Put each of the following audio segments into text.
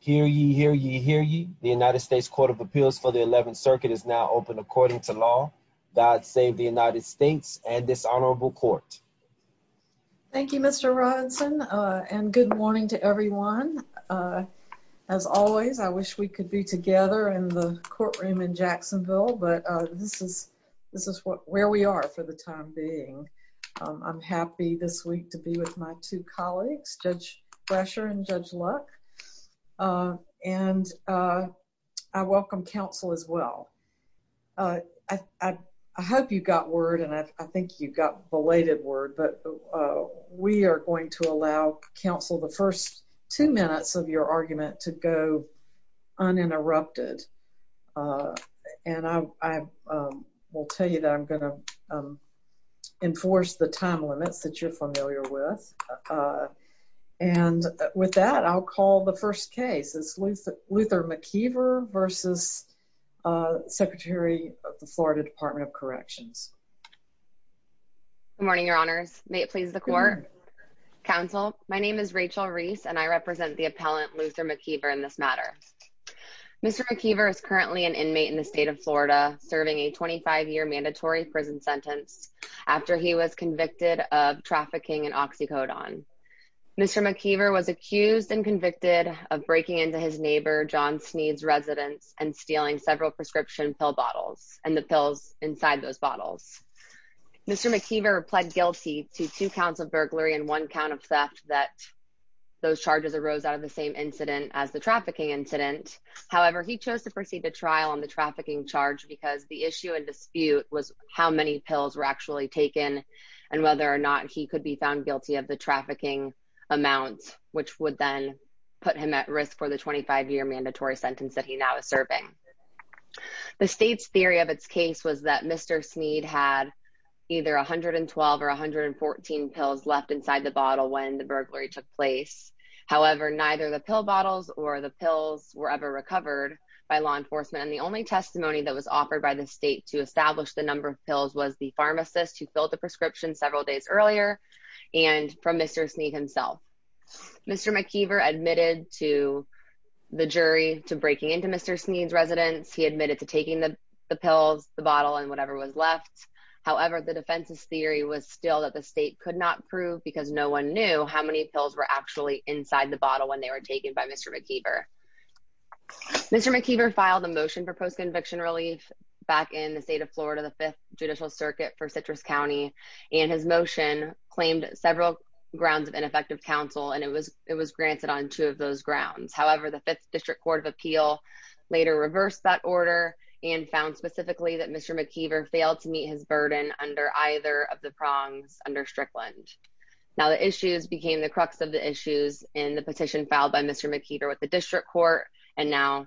Hear ye, hear ye, hear ye. The United States Court of Appeals for the 11th Circuit is now open according to law. God save the United States and this honorable court. Thank you, Mr Robinson. Uh, and good morning to everyone. Uh, as always, I wish we could be together in the courtroom in Jacksonville. But this is this is where we are for the time being. I'm happy this week to be with my two daughters. Good luck. Uh, and, uh, I welcome counsel as well. Uh, I hope you got word and I think you got belated word. But we are going to allow counsel the first two minutes of your argument to go uninterrupted. Uh, and I will tell you that I'm gonna, um, enforce the time limits that you're familiar with. Uh, and with that, I'll call the first case is with Luther McKeever versus, uh, Secretary of the Florida Department of Corrections. Good morning, Your Honors. May it please the court counsel. My name is Rachel Reese, and I represent the appellant Luther McKeever in this matter. Mr McKeever is currently an inmate in the state of Florida, serving a 25 year mandatory prison sentence after he was convicted of trafficking in oxycodone. Mr. McKeever was accused and convicted of breaking into his neighbor John Sneed's residence and stealing several prescription pill bottles and the pills inside those bottles. Mr. McKeever pled guilty to two counts of burglary and one count of theft that those charges arose out of the same incident as the trafficking incident. However, he chose to proceed a trial on the trafficking charge because the issue and dispute was how many pills were actually taken and whether or not he could be found guilty of the trafficking amount, which would then put him at risk for the 25 year mandatory sentence that he now is serving. The state's theory of its case was that Mr Sneed had either 112 or 114 pills left inside the bottle when the burglary took place. However, neither the pill bottles or the pills were ever recovered by law enforcement. And the only testimony that was offered by the state to establish the number of pills was the pharmacist who filled the prescription several days earlier and from Mr Sneed himself. Mr McKeever admitted to the jury to breaking into Mr Sneed's residence. He admitted to taking the pills, the bottle and whatever was left. However, the defense's theory was still that the state could not prove because no one knew how many pills were actually inside the bottle when they were taken by Mr McKeever. Mr McKeever filed a motion for post conviction relief back in the state of Florida, the Fifth Judicial Circuit for Citrus County and his motion claimed several grounds of ineffective counsel and it was it was granted on two of those grounds. However, the Fifth District Court of Appeal later reversed that order and found specifically that Mr McKeever failed to meet his burden under either of the prongs under Strickland. Now the issues became the crux of the issues in the petition filed by Mr McKeever with the district court. And now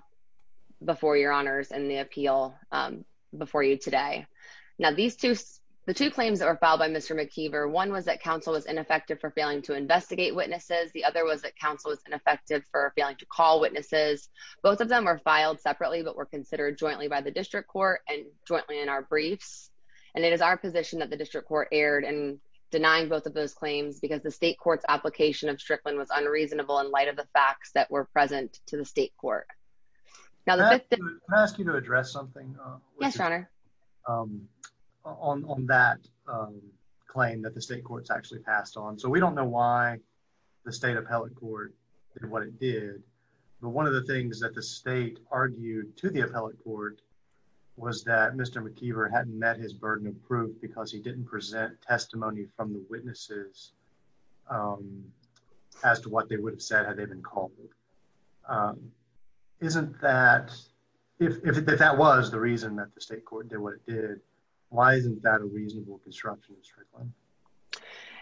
before your honors and the appeal before you today. Now these two, the two claims that were filed by Mr McKeever. One was that counsel was ineffective for failing to investigate witnesses. The other was that counsel was ineffective for failing to call witnesses. Both of them are filed separately but were considered jointly by the district court and jointly in our briefs. And it is our position that the district court aired and denying both of those claims because the state court's application of Strickland was unreasonable in light of the facts that were present to the state court. Now let me ask you to address something. Yes, your honor. Um, on that claim that the state courts actually passed on. So we don't know why the state appellate court did what it did. But one of the things that the state argued to the appellate court was that Mr McKeever hadn't met his burden of proof because he didn't present testimony from the witnesses. Um, as to what they would have said, have they been called? Um, isn't that if that was the reason that the state court did what it did, why isn't that a reasonable construction?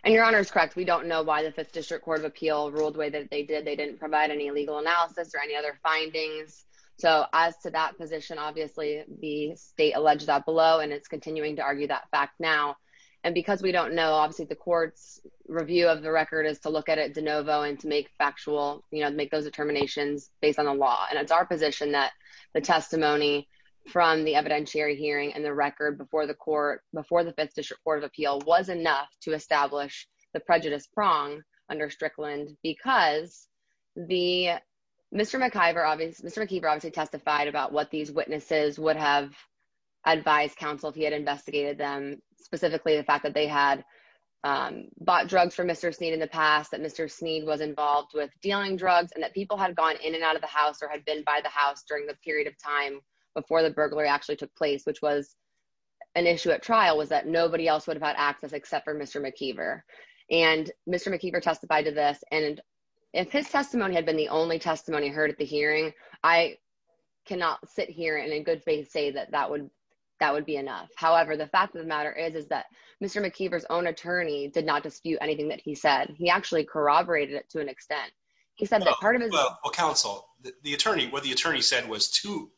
And your honor is correct. We don't know why the Fifth District Court of Appeal ruled way that they did. They didn't provide any legal analysis or any other findings. So as to that position, obviously the state alleged that below and it's continuing to argue that fact now. And because we don't know, obviously the court's review of the record is to look at it de novo and to make factual, you know, make those determinations based on the law. And it's our position that the testimony from the evidentiary hearing and the record before the court before the Fifth District Court of Appeal was enough to establish the prejudice prong under Strickland because the Mr McIver obvious Mr McKeever obviously testified about what these witnesses would have advised counsel if he had investigated them specifically the fact that they had, um, bought drugs for Mr Sneed in the past that Mr Sneed was involved with dealing drugs and that people had gone in and out of the house or had been by the house during the period of time before the burglary actually took place, which was an issue at trial was that nobody else would have had access except for Mr McIver and Mr McIver testified to this. And if his testimony had been the only testimony heard at the hearing, I cannot sit here and in good faith say that that would that would be enough. However, the fact of the matter is, is that Mr McIver's own attorney did not dispute anything that he said. He actually corroborated it to an extent. He said that part of his counsel, the attorney, what the attorney said was to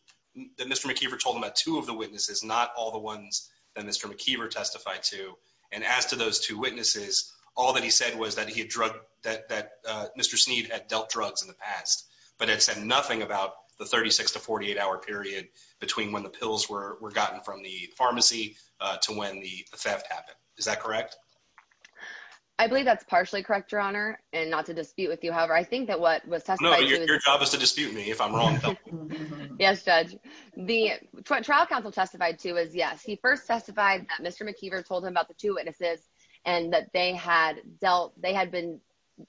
Mr McIver told him that two of the witnesses, not all the ones that Mr McIver testified to. And as to those two witnesses, all that he said was that he had drug that Mr Sneed had dealt drugs in the past, but it said nothing about the 36 to 48 hour period between when the pills were gotten from the pharmacy to when the theft happened. Is that correct? I believe that's partially correct, your honor and not to dispute with you. However, I think that what was your job is to dispute me if I'm wrong. Yes, judge. The trial counsel testified to is yes. He first testified that Mr McIver told him about the two witnesses and that they had dealt. They had been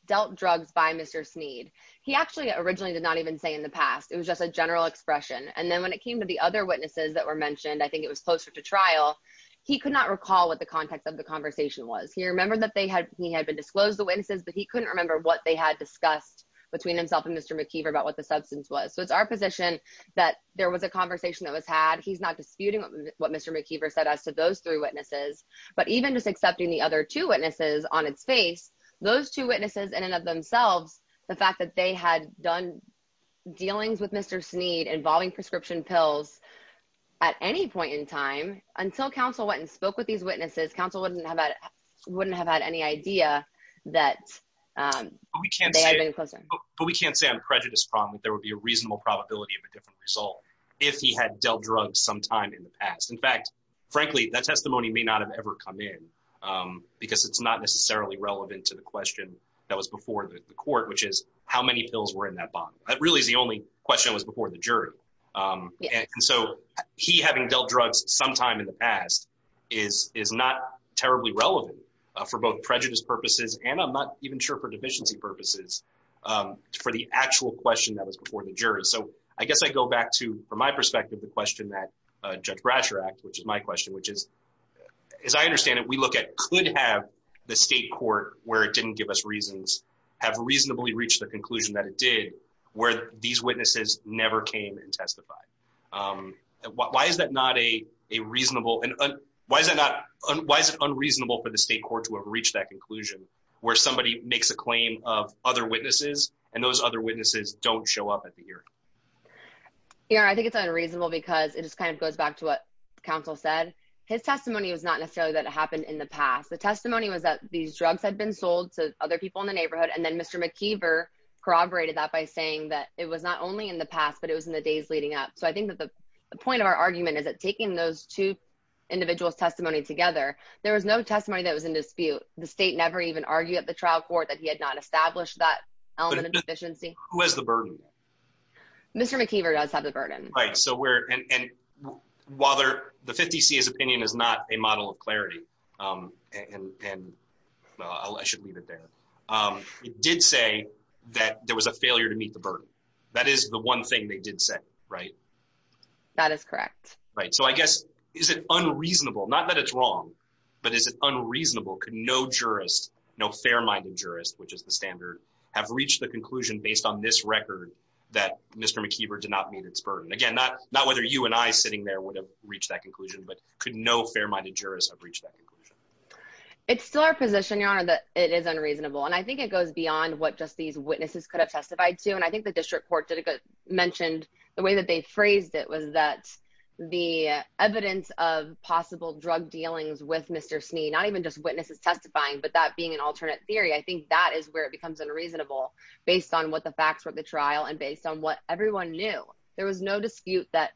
dealt drugs by Mr Sneed. He actually originally did not even say in the past. It was just a general expression. And then when it came to the other witnesses that were mentioned, I think it was closer to trial. He could not recall what the context of the conversation was. He remembered that they had he had been disclosed the witnesses, but he couldn't remember what they had discussed between himself and Mr McIver about what the substance was. So it's our position that there was a conversation that was had. He's not disputing what Mr McIver said as to those three witnesses, but even just upping the other two witnesses on its face, those two witnesses in and of themselves, the fact that they had done dealings with Mr Sneed involving prescription pills at any point in time until council went and spoke with these witnesses. Council wouldn't have wouldn't have had any idea that we can't. But we can't say I'm prejudice problem. There would be a reasonable probability of a different result if he had dealt drugs sometime in the past. In fact, frankly, that testimony may not have ever come in because it's not necessarily relevant to the question that was before the court, which is how many pills were in that bottle. That really is the only question was before the jury. Um, so he having dealt drugs sometime in the past is is not terribly relevant for both prejudice purposes, and I'm not even sure for deficiency purposes for the actual question that was before the jury. So I guess I go back to from my perspective, the question that Judge Bratcher act, which is my question, which is, as I understand it, we look at could have the state court where it didn't give us reasons have reasonably reached the conclusion that it did where these witnesses never came and testified. Um, why is that not a reasonable? And why is that not? Why is it unreasonable for the state court to have reached that conclusion where somebody makes a claim of other witnesses and those other witnesses don't show up at the ear? You know, I think it's unreasonable because it just kind of goes back to what counsel said. His testimony was not necessarily that happened in the past. The testimony was that these drugs had been sold to other people in the neighborhood, and then Mr McKeever corroborated that by saying that it was not only in the past, but it was in the days leading up. So I think that the point of our argument is that taking those two individuals testimony together, there was no testimony that was in dispute. The state never even argued at the trial court that he had not established that element of burden. Mr McKeever does have the burden, right? So we're and while they're the 50 C. His opinion is not a model of clarity. Um, and and I should leave it there. Um, it did say that there was a failure to meet the burden. That is the one thing they did say, right? That is correct, right? So I guess is it unreasonable? Not that it's wrong, but is it unreasonable? Could no jurist, no fair minded jurist, which is the standard, have reached the record that Mr McKeever did not meet its burden again? Not not whether you and I sitting there would have reached that conclusion, but could no fair minded jurist have reached that conclusion? It's still our position, Your Honor, that it is unreasonable, and I think it goes beyond what just these witnesses could have testified to. And I think the district court did it good mentioned the way that they phrased it was that the evidence of possible drug dealings with Mr Sneed, not even just witnesses testifying, but that being an alternate theory. I think that is where it becomes unreasonable based on what the facts were at the trial and based on what everyone knew. There was no dispute that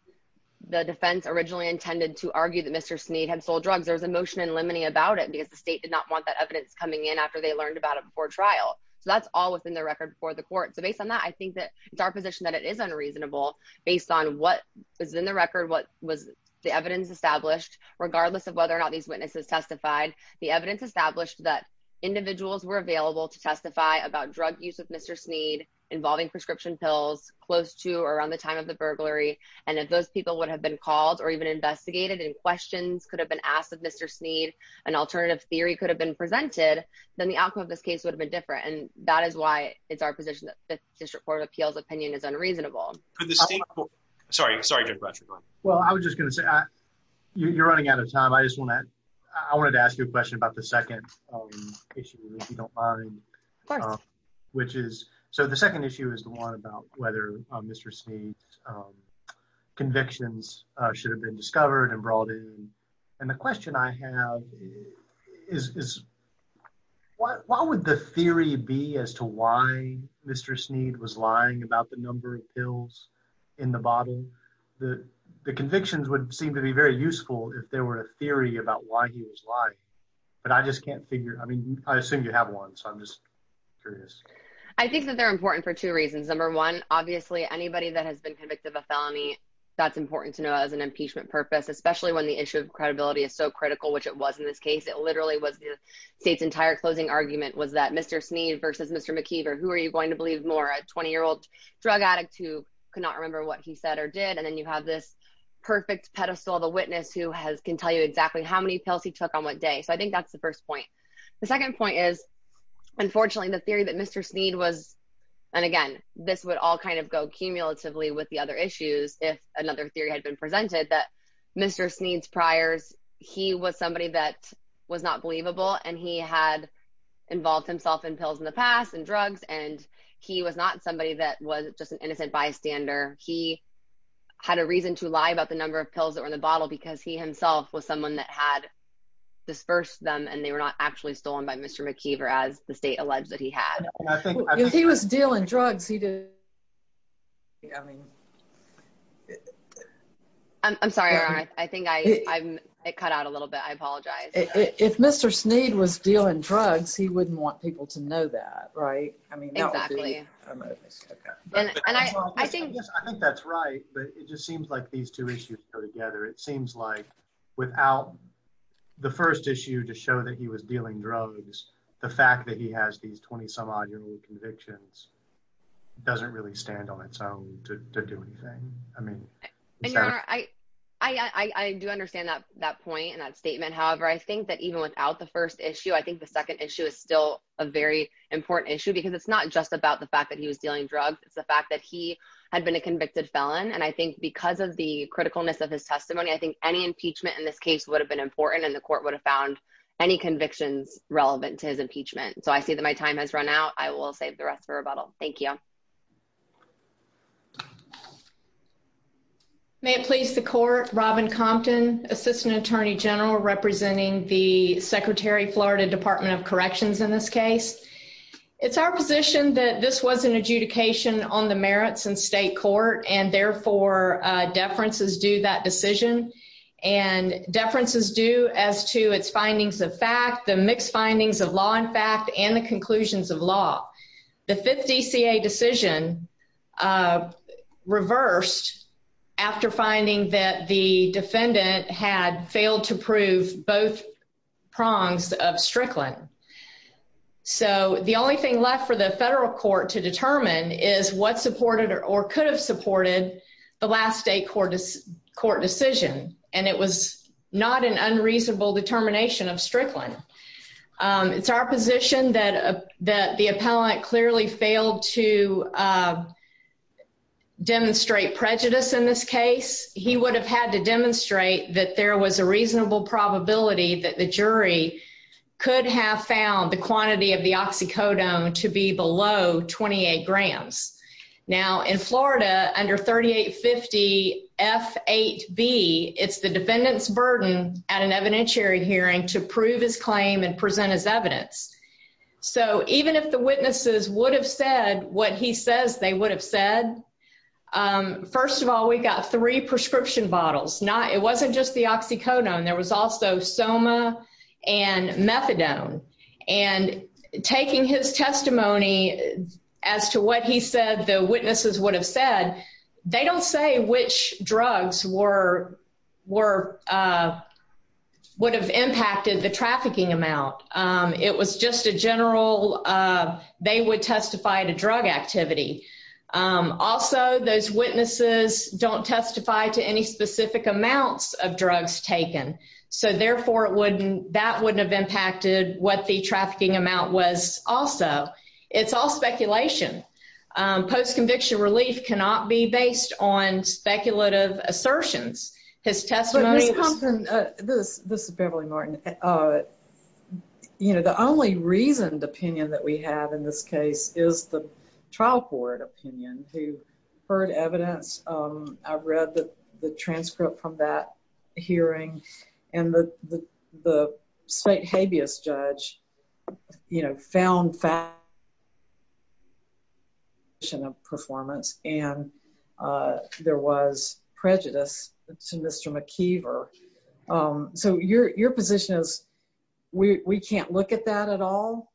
the defense originally intended to argue that Mr Sneed had sold drugs. There's emotion and lemony about it because the state did not want that evidence coming in after they learned about it before trial. So that's all within the record before the court. So based on that, I think that it's our position that it is unreasonable based on what is in the record. What was the evidence established? Regardless of whether or not these witnesses testified, the evidence established that individuals were available to testify about drug use of Mr Sneed involving prescription pills close to around the time of the burglary. And if those people would have been called or even investigated and questions could have been asked of Mr Sneed, an alternative theory could have been presented, then the outcome of this case would have been different. And that is why it's our position that the District Court of Appeals opinion is unreasonable. Sorry. Sorry. Well, I was just gonna say you're running out of time. I just want to I wanted to ask you a question about the second issue, if you don't mind, which is so the second issue is the one about whether Mr Sneed's convictions should have been discovered and brought in. And the question I have is, why would the theory be as to why Mr Sneed was lying about the number of pills in the bottle? The convictions would seem to be very useful if there were a theory about why he was lying. But I just can't figure. I mean, I assume you have one, so I'm just curious. I think that they're important for two reasons. Number one, obviously, anybody that has been convicted of a felony, that's important to know as an impeachment purpose, especially when the issue of credibility is so critical, which it was in this case. It literally was the state's entire closing argument was that Mr Sneed versus Mr McKeever. Who are you going to believe? More a 20 year old drug addict who could not remember what he said or did. And then you have this perfect pedestal, the witness who has can tell you exactly how many pills he took on what day. So I think that's the first point. The second point is, unfortunately, the theory that Mr Sneed was, and again, this would all kind of go cumulatively with the other issues. If another theory had been presented that Mr Sneed's priors, he was somebody that was not believable, and he had involved himself in pills in the past and had a reason to lie about the number of pills that were in the bottle because he himself was someone that had dispersed them and they were not actually stolen by Mr McKeever as the state alleged that he had. I think if he was dealing drugs, he did. Yeah, I mean, I'm sorry. I think I cut out a little bit. I apologize. If Mr Sneed was dealing drugs, he wouldn't want people to know that, right? I mean, I think that's right. But it just seems like these two issues go together. It seems like without the first issue to show that he was dealing drugs, the fact that he has these 20 some odd convictions doesn't really stand on its own to do anything. I mean, I do understand that that point and that statement. However, I think that even without the first issue, I think the about the fact that he was dealing drugs. It's the fact that he had been a convicted felon, and I think because of the criticalness of his testimony, I think any impeachment in this case would have been important, and the court would have found any convictions relevant to his impeachment. So I see that my time has run out. I will save the rest for rebuttal. Thank you. May it please the court. Robin Compton, Assistant Attorney General, representing the Secretary Florida Department of Corrections. In this case, it's our position that this was an adjudication on the merits and state court, and therefore deference is due that decision and deference is due as to its findings of fact, the mixed findings of law and fact and the conclusions of law. The 50 C. A decision, uh, reversed after finding that the defendant had failed to prove both prongs of Strickland. So the only thing left for the federal court to determine is what supported or could have supported the last state court is court decision, and it was not an unreasonable determination of Strickland. Um, it's our position that the appellant clearly failed to, uh, demonstrate prejudice. In this case, he would have had to demonstrate that there was a reasonable probability that the jury could have found the quantity of the oxycodone to be below 28 grams. Now, in Florida, under 38 50 F eight B, it's the defendant's burden at an evidentiary hearing to prove his claim and present his evidence. So even if the witnesses would have said what he says they would have said, um, first of all, we got three prescription bottles, not it wasn't just the oxycodone. There was also soma and methadone and taking his testimony as to what he said the witnesses would have said. They don't say which drugs were were, uh, would have impacted the trafficking amount. Um, it was just a general, uh, they would testify to drug activity. Um, also, those witnesses don't testify to any specific amounts of drugs taken. So therefore, it wouldn't that wouldn't have impacted what the trafficking amount was. Also, it's all speculation. Um, post conviction relief cannot be based on speculative assertions. His testimony was this. This is Beverly Martin. Uh, you know, the only reasoned opinion that we have in this case is the trial court opinion who heard evidence. Um, I've read the transcript from that hearing and the the state habeas judge, you know, found fact Yeah. Mission of performance. And, uh, there was prejudice to Mr McKeever. Um, so your your position is we can't look at that at all.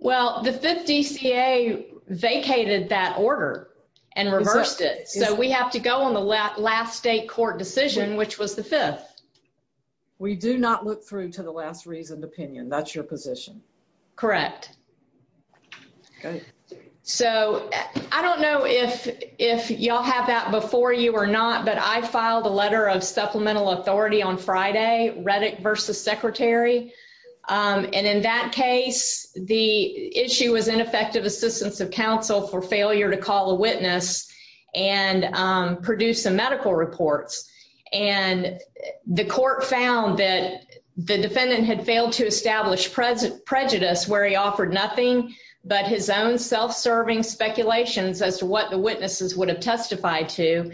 Well, the 50 C. A. Vacated that order and reversed it. So we have to go on the last state court decision, which was the fifth. We do not look through to the last reasoned opinion. That's your position. Correct. Okay. So I don't know if if y'all have that before you or not, but I filed a letter of supplemental authority on Friday. Reddit versus secretary. Um, and in that case, the issue was ineffective assistance of counsel for failure to call a witness and produce a medical reports. And the court found that the president prejudice where he offered nothing but his own self serving speculations as to what the witnesses would have testified to.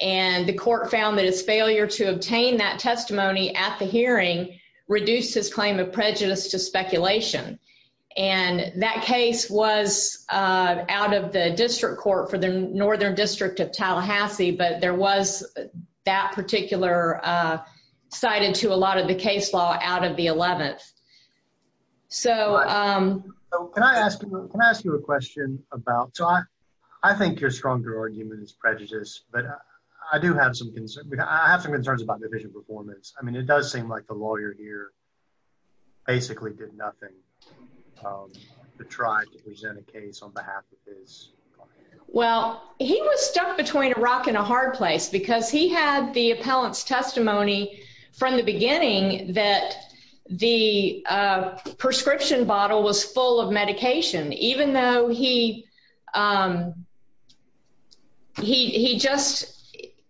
And the court found that his failure to obtain that testimony at the hearing reduced his claim of prejudice to speculation. And that case was out of the district court for the northern district of Tallahassee. But there was that particular, uh, cited to a lot of the case law out of the 11th. So, um, can I ask? Can I ask you a question about? So I think you're stronger argument is prejudice. But I do have some concern. I have some concerns about the vision performance. I mean, it does seem like the lawyer here basically did nothing to try to present a case on behalf of his. Well, he was stuck between a rock and a hard place because he had the appellant's testimony from the beginning that the, uh, prescription bottle was full of medication, even though he, um, he just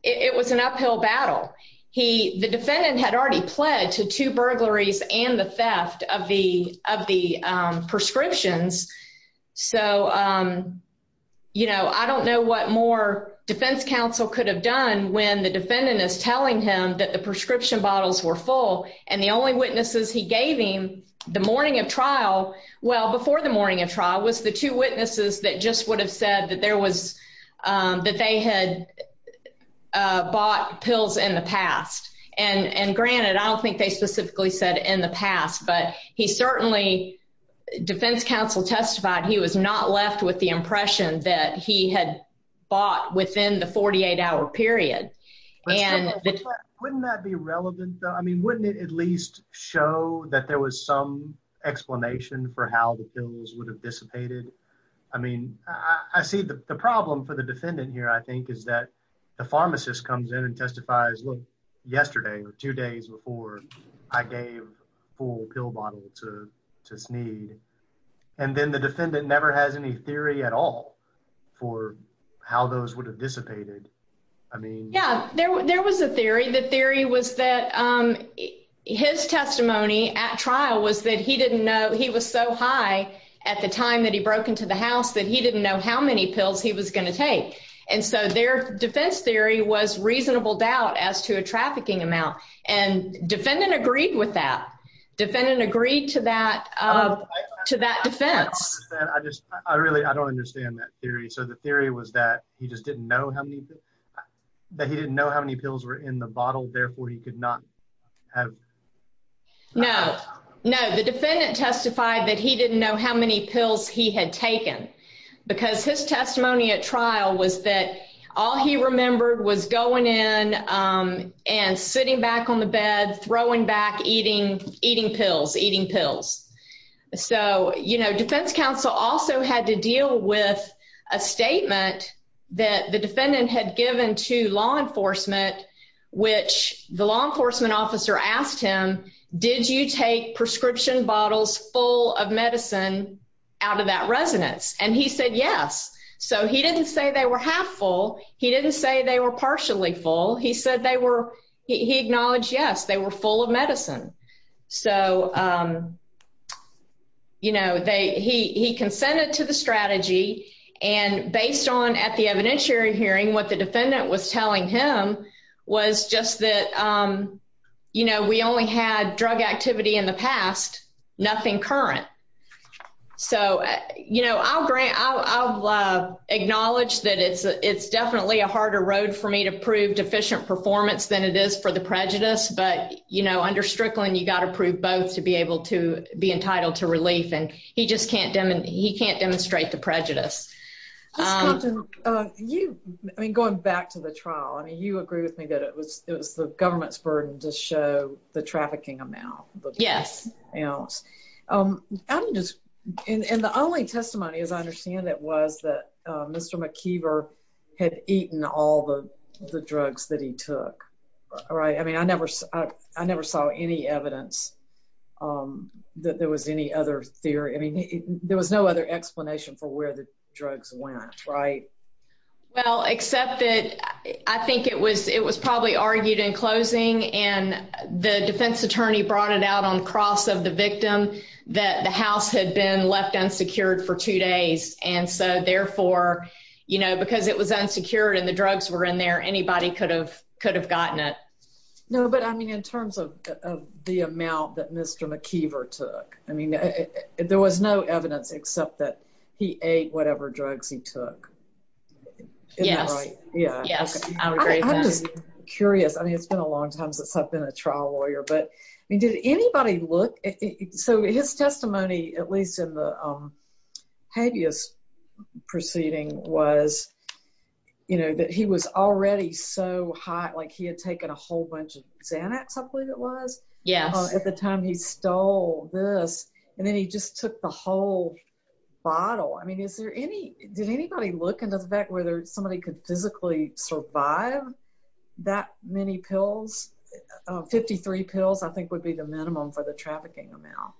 it was an uphill battle. He the defendant had already pled to two burglaries and the theft of the of the prescriptions. So, um, you know, I don't know what more defense counsel could have done when the defendant is telling him that the prescription bottles were full and the only witnesses he gave him the morning of trial. Well, before the morning of trial was the two witnesses that just would have said that there was, um, that they had bought pills in the past. And granted, I don't think they specifically said in the past, but he certainly defense counsel testified he was not left with impression that he had bought within the 48 hour period. And wouldn't that be relevant? I mean, wouldn't it at least show that there was some explanation for how the bills would have dissipated? I mean, I see the problem for the defendant here, I think, is that the pharmacist comes in and testifies look yesterday or two days before I gave full pill bottle to just need. And then the defendant never has any theory at all for how those would have dissipated. I mean, yeah, there was a theory. The theory was that, um, his testimony at trial was that he didn't know he was so high at the time that he broke into the house that he didn't know how many pills he was gonna take. And so their defense theory was reasonable doubt as to a trafficking amount. And defendant agreed with that. Defendant agreed to that, uh, to that defense. I just I really I don't understand that theory. So the theory was that he just didn't know how many that he didn't know how many pills were in the bottle. Therefore, he could not have. No, no, the defendant testified that he didn't know how many pills he had taken because his testimony at trial was that all he remembered was going in, um, and sitting back on the bed, throwing back, eating, eating pills, eating pills. So, you know, defense counsel also had to deal with a statement that the defendant had given to law enforcement, which the law enforcement officer asked him. Did you take prescription bottles full of medicine out of that residence? And he said yes. So he didn't say they were half full. He didn't say they were they were full of medicine. So, um, you know, they he consented to the strategy. And based on at the evidentiary hearing, what the defendant was telling him was just that, um, you know, we only had drug activity in the past, nothing current. So, you know, I'll grant I'll I'll, uh, acknowledge that it's it's definitely a harder road for me to prove deficient performance than it is for the prejudice. But, you know, under Strickland, you got to prove both to be able to be entitled to relief, and he just can't. He can't demonstrate the prejudice. Um, you going back to the trial. I mean, you agree with me that it was it was the government's burden to show the trafficking amount. Yes. Um, I'm just and the only testimony, as I the drugs that he took. All right. I mean, I never I never saw any evidence, um, that there was any other theory. I mean, there was no other explanation for where the drugs went, right? Well, except that I think it was. It was probably argued in closing, and the defense attorney brought it out on cross of the victim that the House had been left unsecured for two days. And so therefore, you know, because it was unsecured and the drugs were in there, anybody could have could have gotten it. No. But I mean, in terms of the amount that Mr McKeever took, I mean, there was no evidence except that he ate whatever drugs he took. Yes. Yeah. Yes. I'm just curious. I mean, it's been a long time since I've been a trial lawyer. But I mean, did anybody look so his testimony, at least in the habeas proceeding was, you know, that he was already so hot, like he had taken a whole bunch of Xanax? I believe it was. Yeah. At the time he stole this, and then he just took the whole bottle. I mean, is there any did anybody look into the back where there's somebody could physically survive that many pills? 53 pills, I think would be the minimum for the trafficking amount.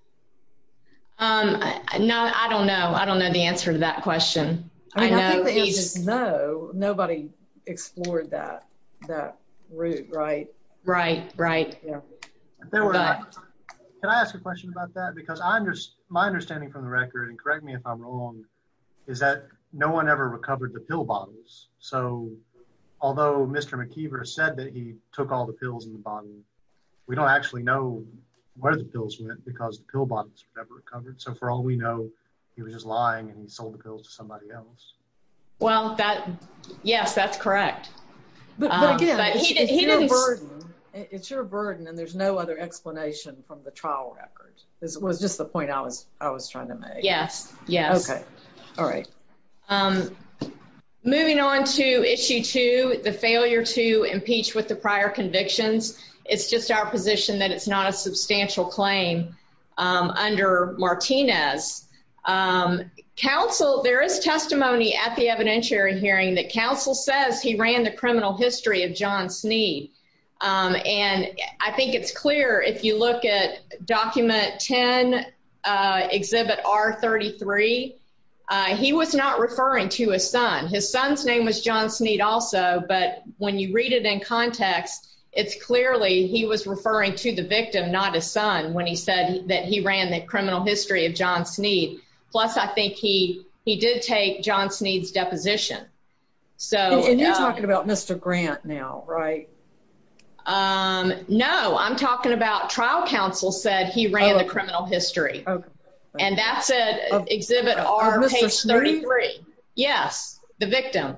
Um, no, I don't know. I don't know the answer to that question. I know. No, nobody explored that. That route. Right. Right. Right. There were. Can I ask a question about that? Because I'm just my understanding from the record and correct me if I'm wrong, is that no one ever recovered the pill bottles. So although Mr McKeever said that he took all the pills in the bottom, we don't actually know where the pills went because the pill bottles were never recovered. So for all we know, he was just lying and he sold the pills to somebody else. Well, that yes, that's correct. But again, it's your burden, and there's no other explanation from the trial record. This was just the point I was I was trying to make. Yes. Yes. Okay. All right. Um, moving on to issue to the failure to impeach with the prior convictions. It's just our position that it's not a substantial claim under Martinez. Um, counsel, there is testimony at the evidentiary hearing that counsel says he ran the criminal history of John Sneed. Um, and I think it's clear if you look at document 10 exhibit are 33. He was not referring to his son. His son's name was John Sneed also. But when you read it in context, it's clearly he was referring to the victim, not his son. When he said that he ran the criminal history of John Sneed. Plus, I think he he did take John Sneed's deposition. So you're talking about Mr Grant now, right? Um, no, I'm talking about trial counsel said he ran the criminal history, and that's it. Exhibit are this is 33. Yes, the victim.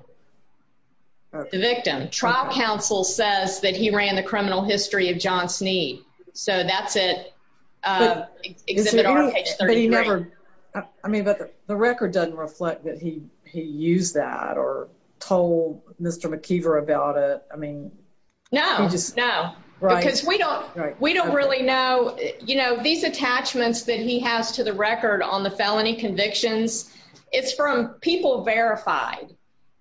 The victim. Trial counsel says that he ran the criminal history of John Sneed. So that's it. Uh, never. I mean, but the record doesn't reflect that he used that or told Mr McKeever about it. I mean, no, no, because we don't. We don't really know. You know, these attachments that he has to the record on the felony convictions. It's from people verified,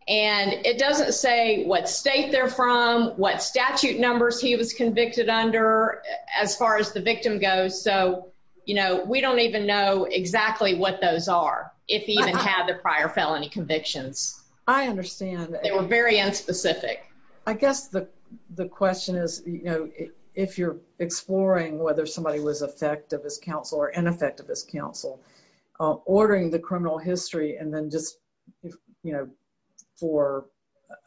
and it doesn't say what state they're from, what statute numbers he was convicted under as far as the victim goes. So, you know, we don't even know exactly what those are. If he even had the prior felony convictions, I understand they were very unspecific. I guess the question is, you know, if you're exploring whether somebody was effective as counsel or ineffective as counsel ordering the criminal history and then just, you know, for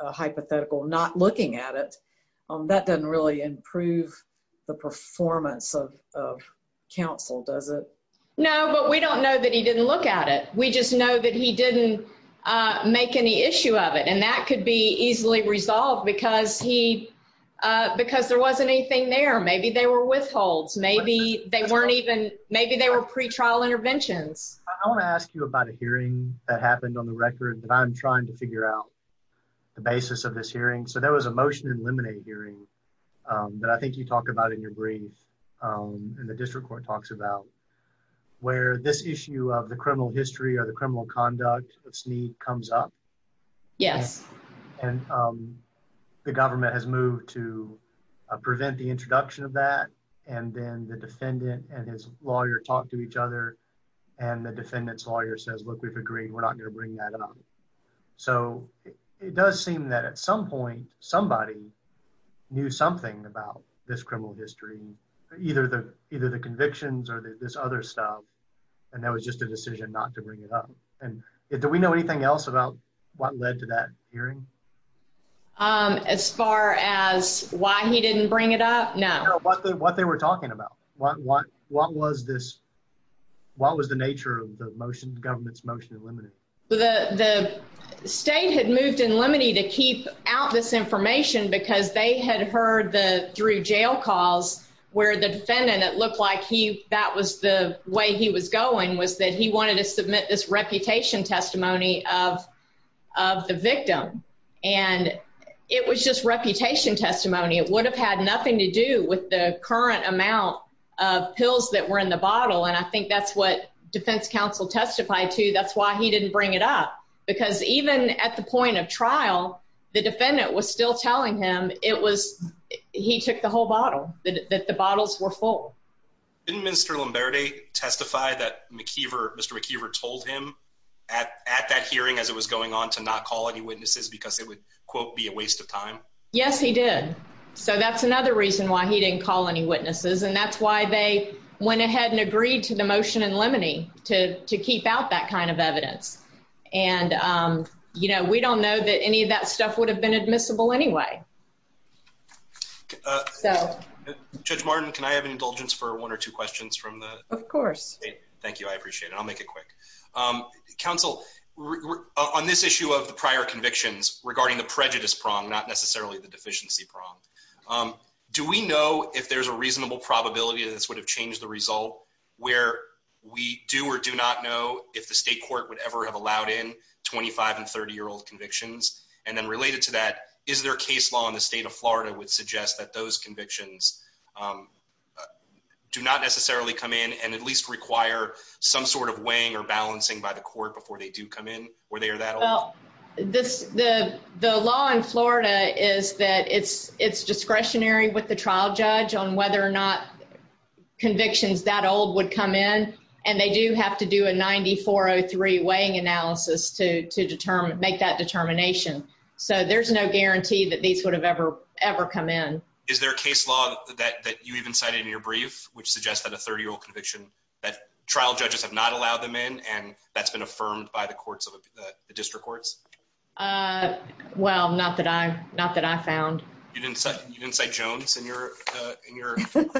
hypothetical not looking at it, that doesn't really improve the performance of of counsel, does it? No, but we don't know that he didn't look at it. We just know that he didn't make any issue of it, and that could be easily resolved because he because there wasn't anything there. Maybe they were withholds. Maybe they weren't even. Maybe they were pretrial interventions. I want to ask you about a hearing that happened on the record that I'm trying to figure out the basis of this hearing. So there was a motion to eliminate hearing that I think you talk about in your brief on the district court talks about where this issue of the criminal history or the criminal conduct of sneak comes up. Yes, and, um, the government has moved to prevent the introduction of that, and then the defendant and his lawyer talked to each other, and the defendant's lawyer says, look, we've agreed we're not going to bring that up. So it does seem that at some point somebody knew something about this criminal history, either the convictions or this other stuff, and that was just a decision not to bring it on. Do we know anything else about what led to that hearing? Um, as far as why he didn't bring it up? No, but what they were talking about what? What was this? What was the nature of the motion? Government's motion eliminated. The state had moved in limiting to keep out this information because they had heard the through jail calls where the defendant that looked like he that was the way he was going was that he wanted to submit this reputation testimony of of the victim, and it was just reputation testimony. It would have had nothing to do with the current amount of pills that were in the bottle, and I think that's what defense counsel testified to. That's why he didn't bring it up, because even at the point of trial, the defendant was still telling him it was he took the whole bottle that the bottles were in. Minister Lombardi testified that McKeever, Mr McKeever, told him at at that hearing as it was going on to not call any witnesses because it would be a waste of time. Yes, he did. So that's another reason why he didn't call any witnesses, and that's why they went ahead and agreed to the motion and limiting to keep out that kind of evidence. And, um, you know, we don't know that any of that stuff would have been admissible anyway. Uh, so Judge Martin, can I have an indulgence for one or two questions from the course? Thank you. I appreciate it. I'll make it quick. Um, counsel on this issue of the prior convictions regarding the prejudice prong, not necessarily the deficiency prong. Um, do we know if there's a reasonable probability this would have changed the result where we do or do not know if the state court would ever have allowed in 25 and 30 year old convictions. And then related to that, is there case law in the state of Florida would suggest that those convictions, um, do not necessarily come in and at least require some sort of weighing or balancing by the court before they do come in where they are that well, this the law in Florida is that it's discretionary with the trial judge on whether or not convictions that old would come in. And they do have to do a 9403 weighing analysis to determine, make that determination. So there's no guarantee that these would have ever, ever come in. Is there a case law that you even cited in your brief, which suggests that a 30 year old conviction that trial judges have not allowed them in, and that's been affirmed by the courts of the district courts? Uh, well, not that I'm not that I found. You didn't say you didn't say Jones in your, uh, in your in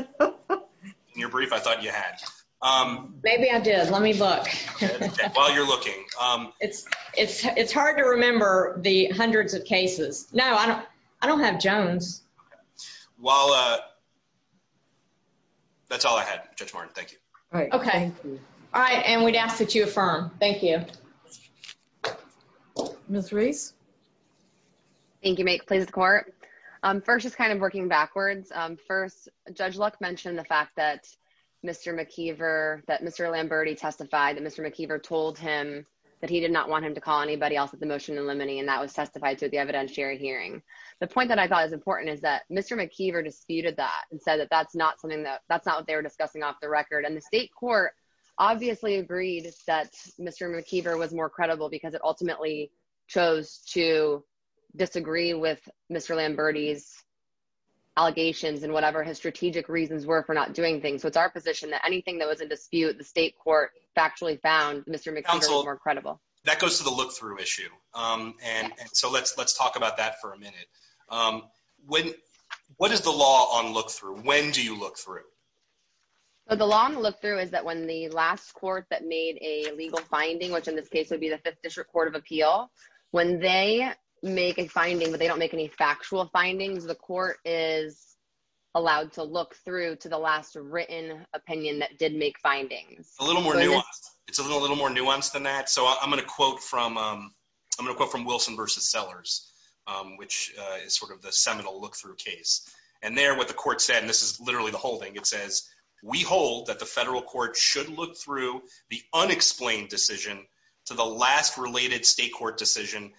your brief. I thought you had. Um, maybe I it's hard to remember the hundreds of cases. No, I don't. I don't have Jones. While, uh, that's all I had. Judge Martin. Thank you. Okay. All right. And we'd ask that you affirm. Thank you, Miss Reese. Thank you. Make please court. Um, first, it's kind of working backwards. First, Judge Luck mentioned the fact that Mr McKeever, that Mr Lambert, he anybody else at the motion and limiting, and that was testified to the evidentiary hearing. The point that I thought is important is that Mr McKeever disputed that and said that that's not something that that's not what they were discussing off the record. And the state court obviously agreed that Mr McKeever was more credible because it ultimately chose to disagree with Mr Lambert ease allegations and whatever his strategic reasons were for not doing things. So it's our position that anything that was a dispute the state court actually found Mr McConnell more credible. That goes to the look through issue. Um, and so let's let's talk about that for a minute. Um, when what is the law on look through? When do you look through? The long look through is that when the last court that made a legal finding, which in this case would be the Fifth District Court of Appeal when they make a finding, but they don't make any factual findings, the court is allowed to look through to the last written opinion that did make findings a little more nuanced. It's a little more nuanced than that. So I'm gonna quote from, um, I'm gonna go from Wilson versus Sellers, which is sort of the seminal look through case. And they're what the court said. And this is literally the holding. It says we hold that the federal court should look through the unexplained decision to the last related state court decision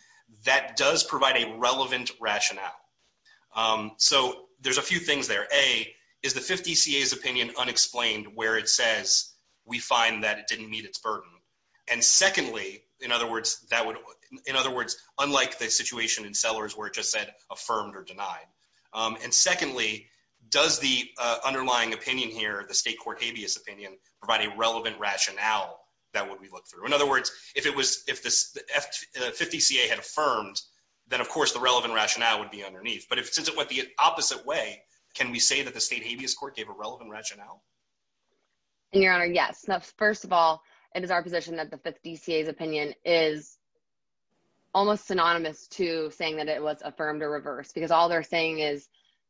that does provide a relevant rationale. Um, so there's a few things there. A is we find that it didn't meet its burden. And secondly, in other words, that would, in other words, unlike the situation in Sellers, where it just said affirmed or denied. Um, and secondly, does the underlying opinion here, the state court habeas opinion, providing relevant rationale that what we look through. In other words, if it was if this 50 C. A. Had affirmed, then, of course, the relevant rationale would be underneath. But since it went the opposite way, can we say that the state habeas court gave a relevant rationale? And your honor? Yes. First of all, it is our position that the 50 C. A.'s opinion is almost synonymous to saying that it was affirmed or reversed because all they're saying is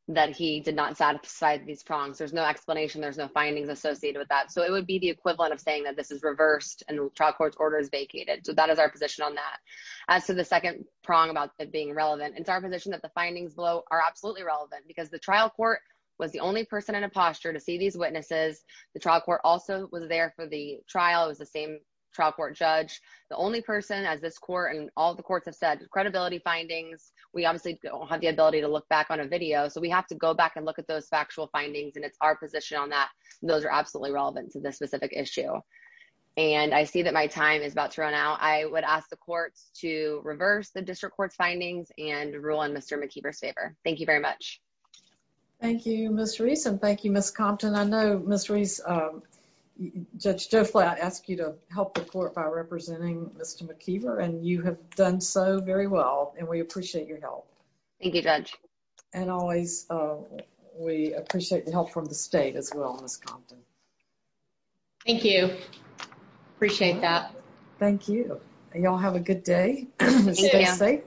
that he did not satisfy these prongs. There's no explanation. There's no findings associated with that. So it would be the equivalent of saying that this is reversed and trial court's order is vacated. So that is our position on that. So the second prong about it being relevant. It's our position that the findings below are absolutely relevant because the trial court was the only person in a posture to see these witnesses. The trial court also was there for the trial. It was the same trial court judge. The only person as this court and all the courts have said credibility findings. We obviously don't have the ability to look back on a video, so we have to go back and look at those factual findings, and it's our position on that. Those are absolutely relevant to this specific issue. And I see that my time is about to run out. I would ask the courts to reverse the district court's findings and rule in Mr McKee first favor. Thank you very much. Thank you, Miss Reese. And thank you, Miss Compton. I know mysteries. Uh, Judge Joe Flat asked you to help the court by representing Mr McKeever, and you have done so very well, and we appreciate your help. Thank you, Judge. And always way appreciate the help from the state as well. Miss Compton. Thank you. Appreciate that. Thank you. Y'all have a good day. Stay safe.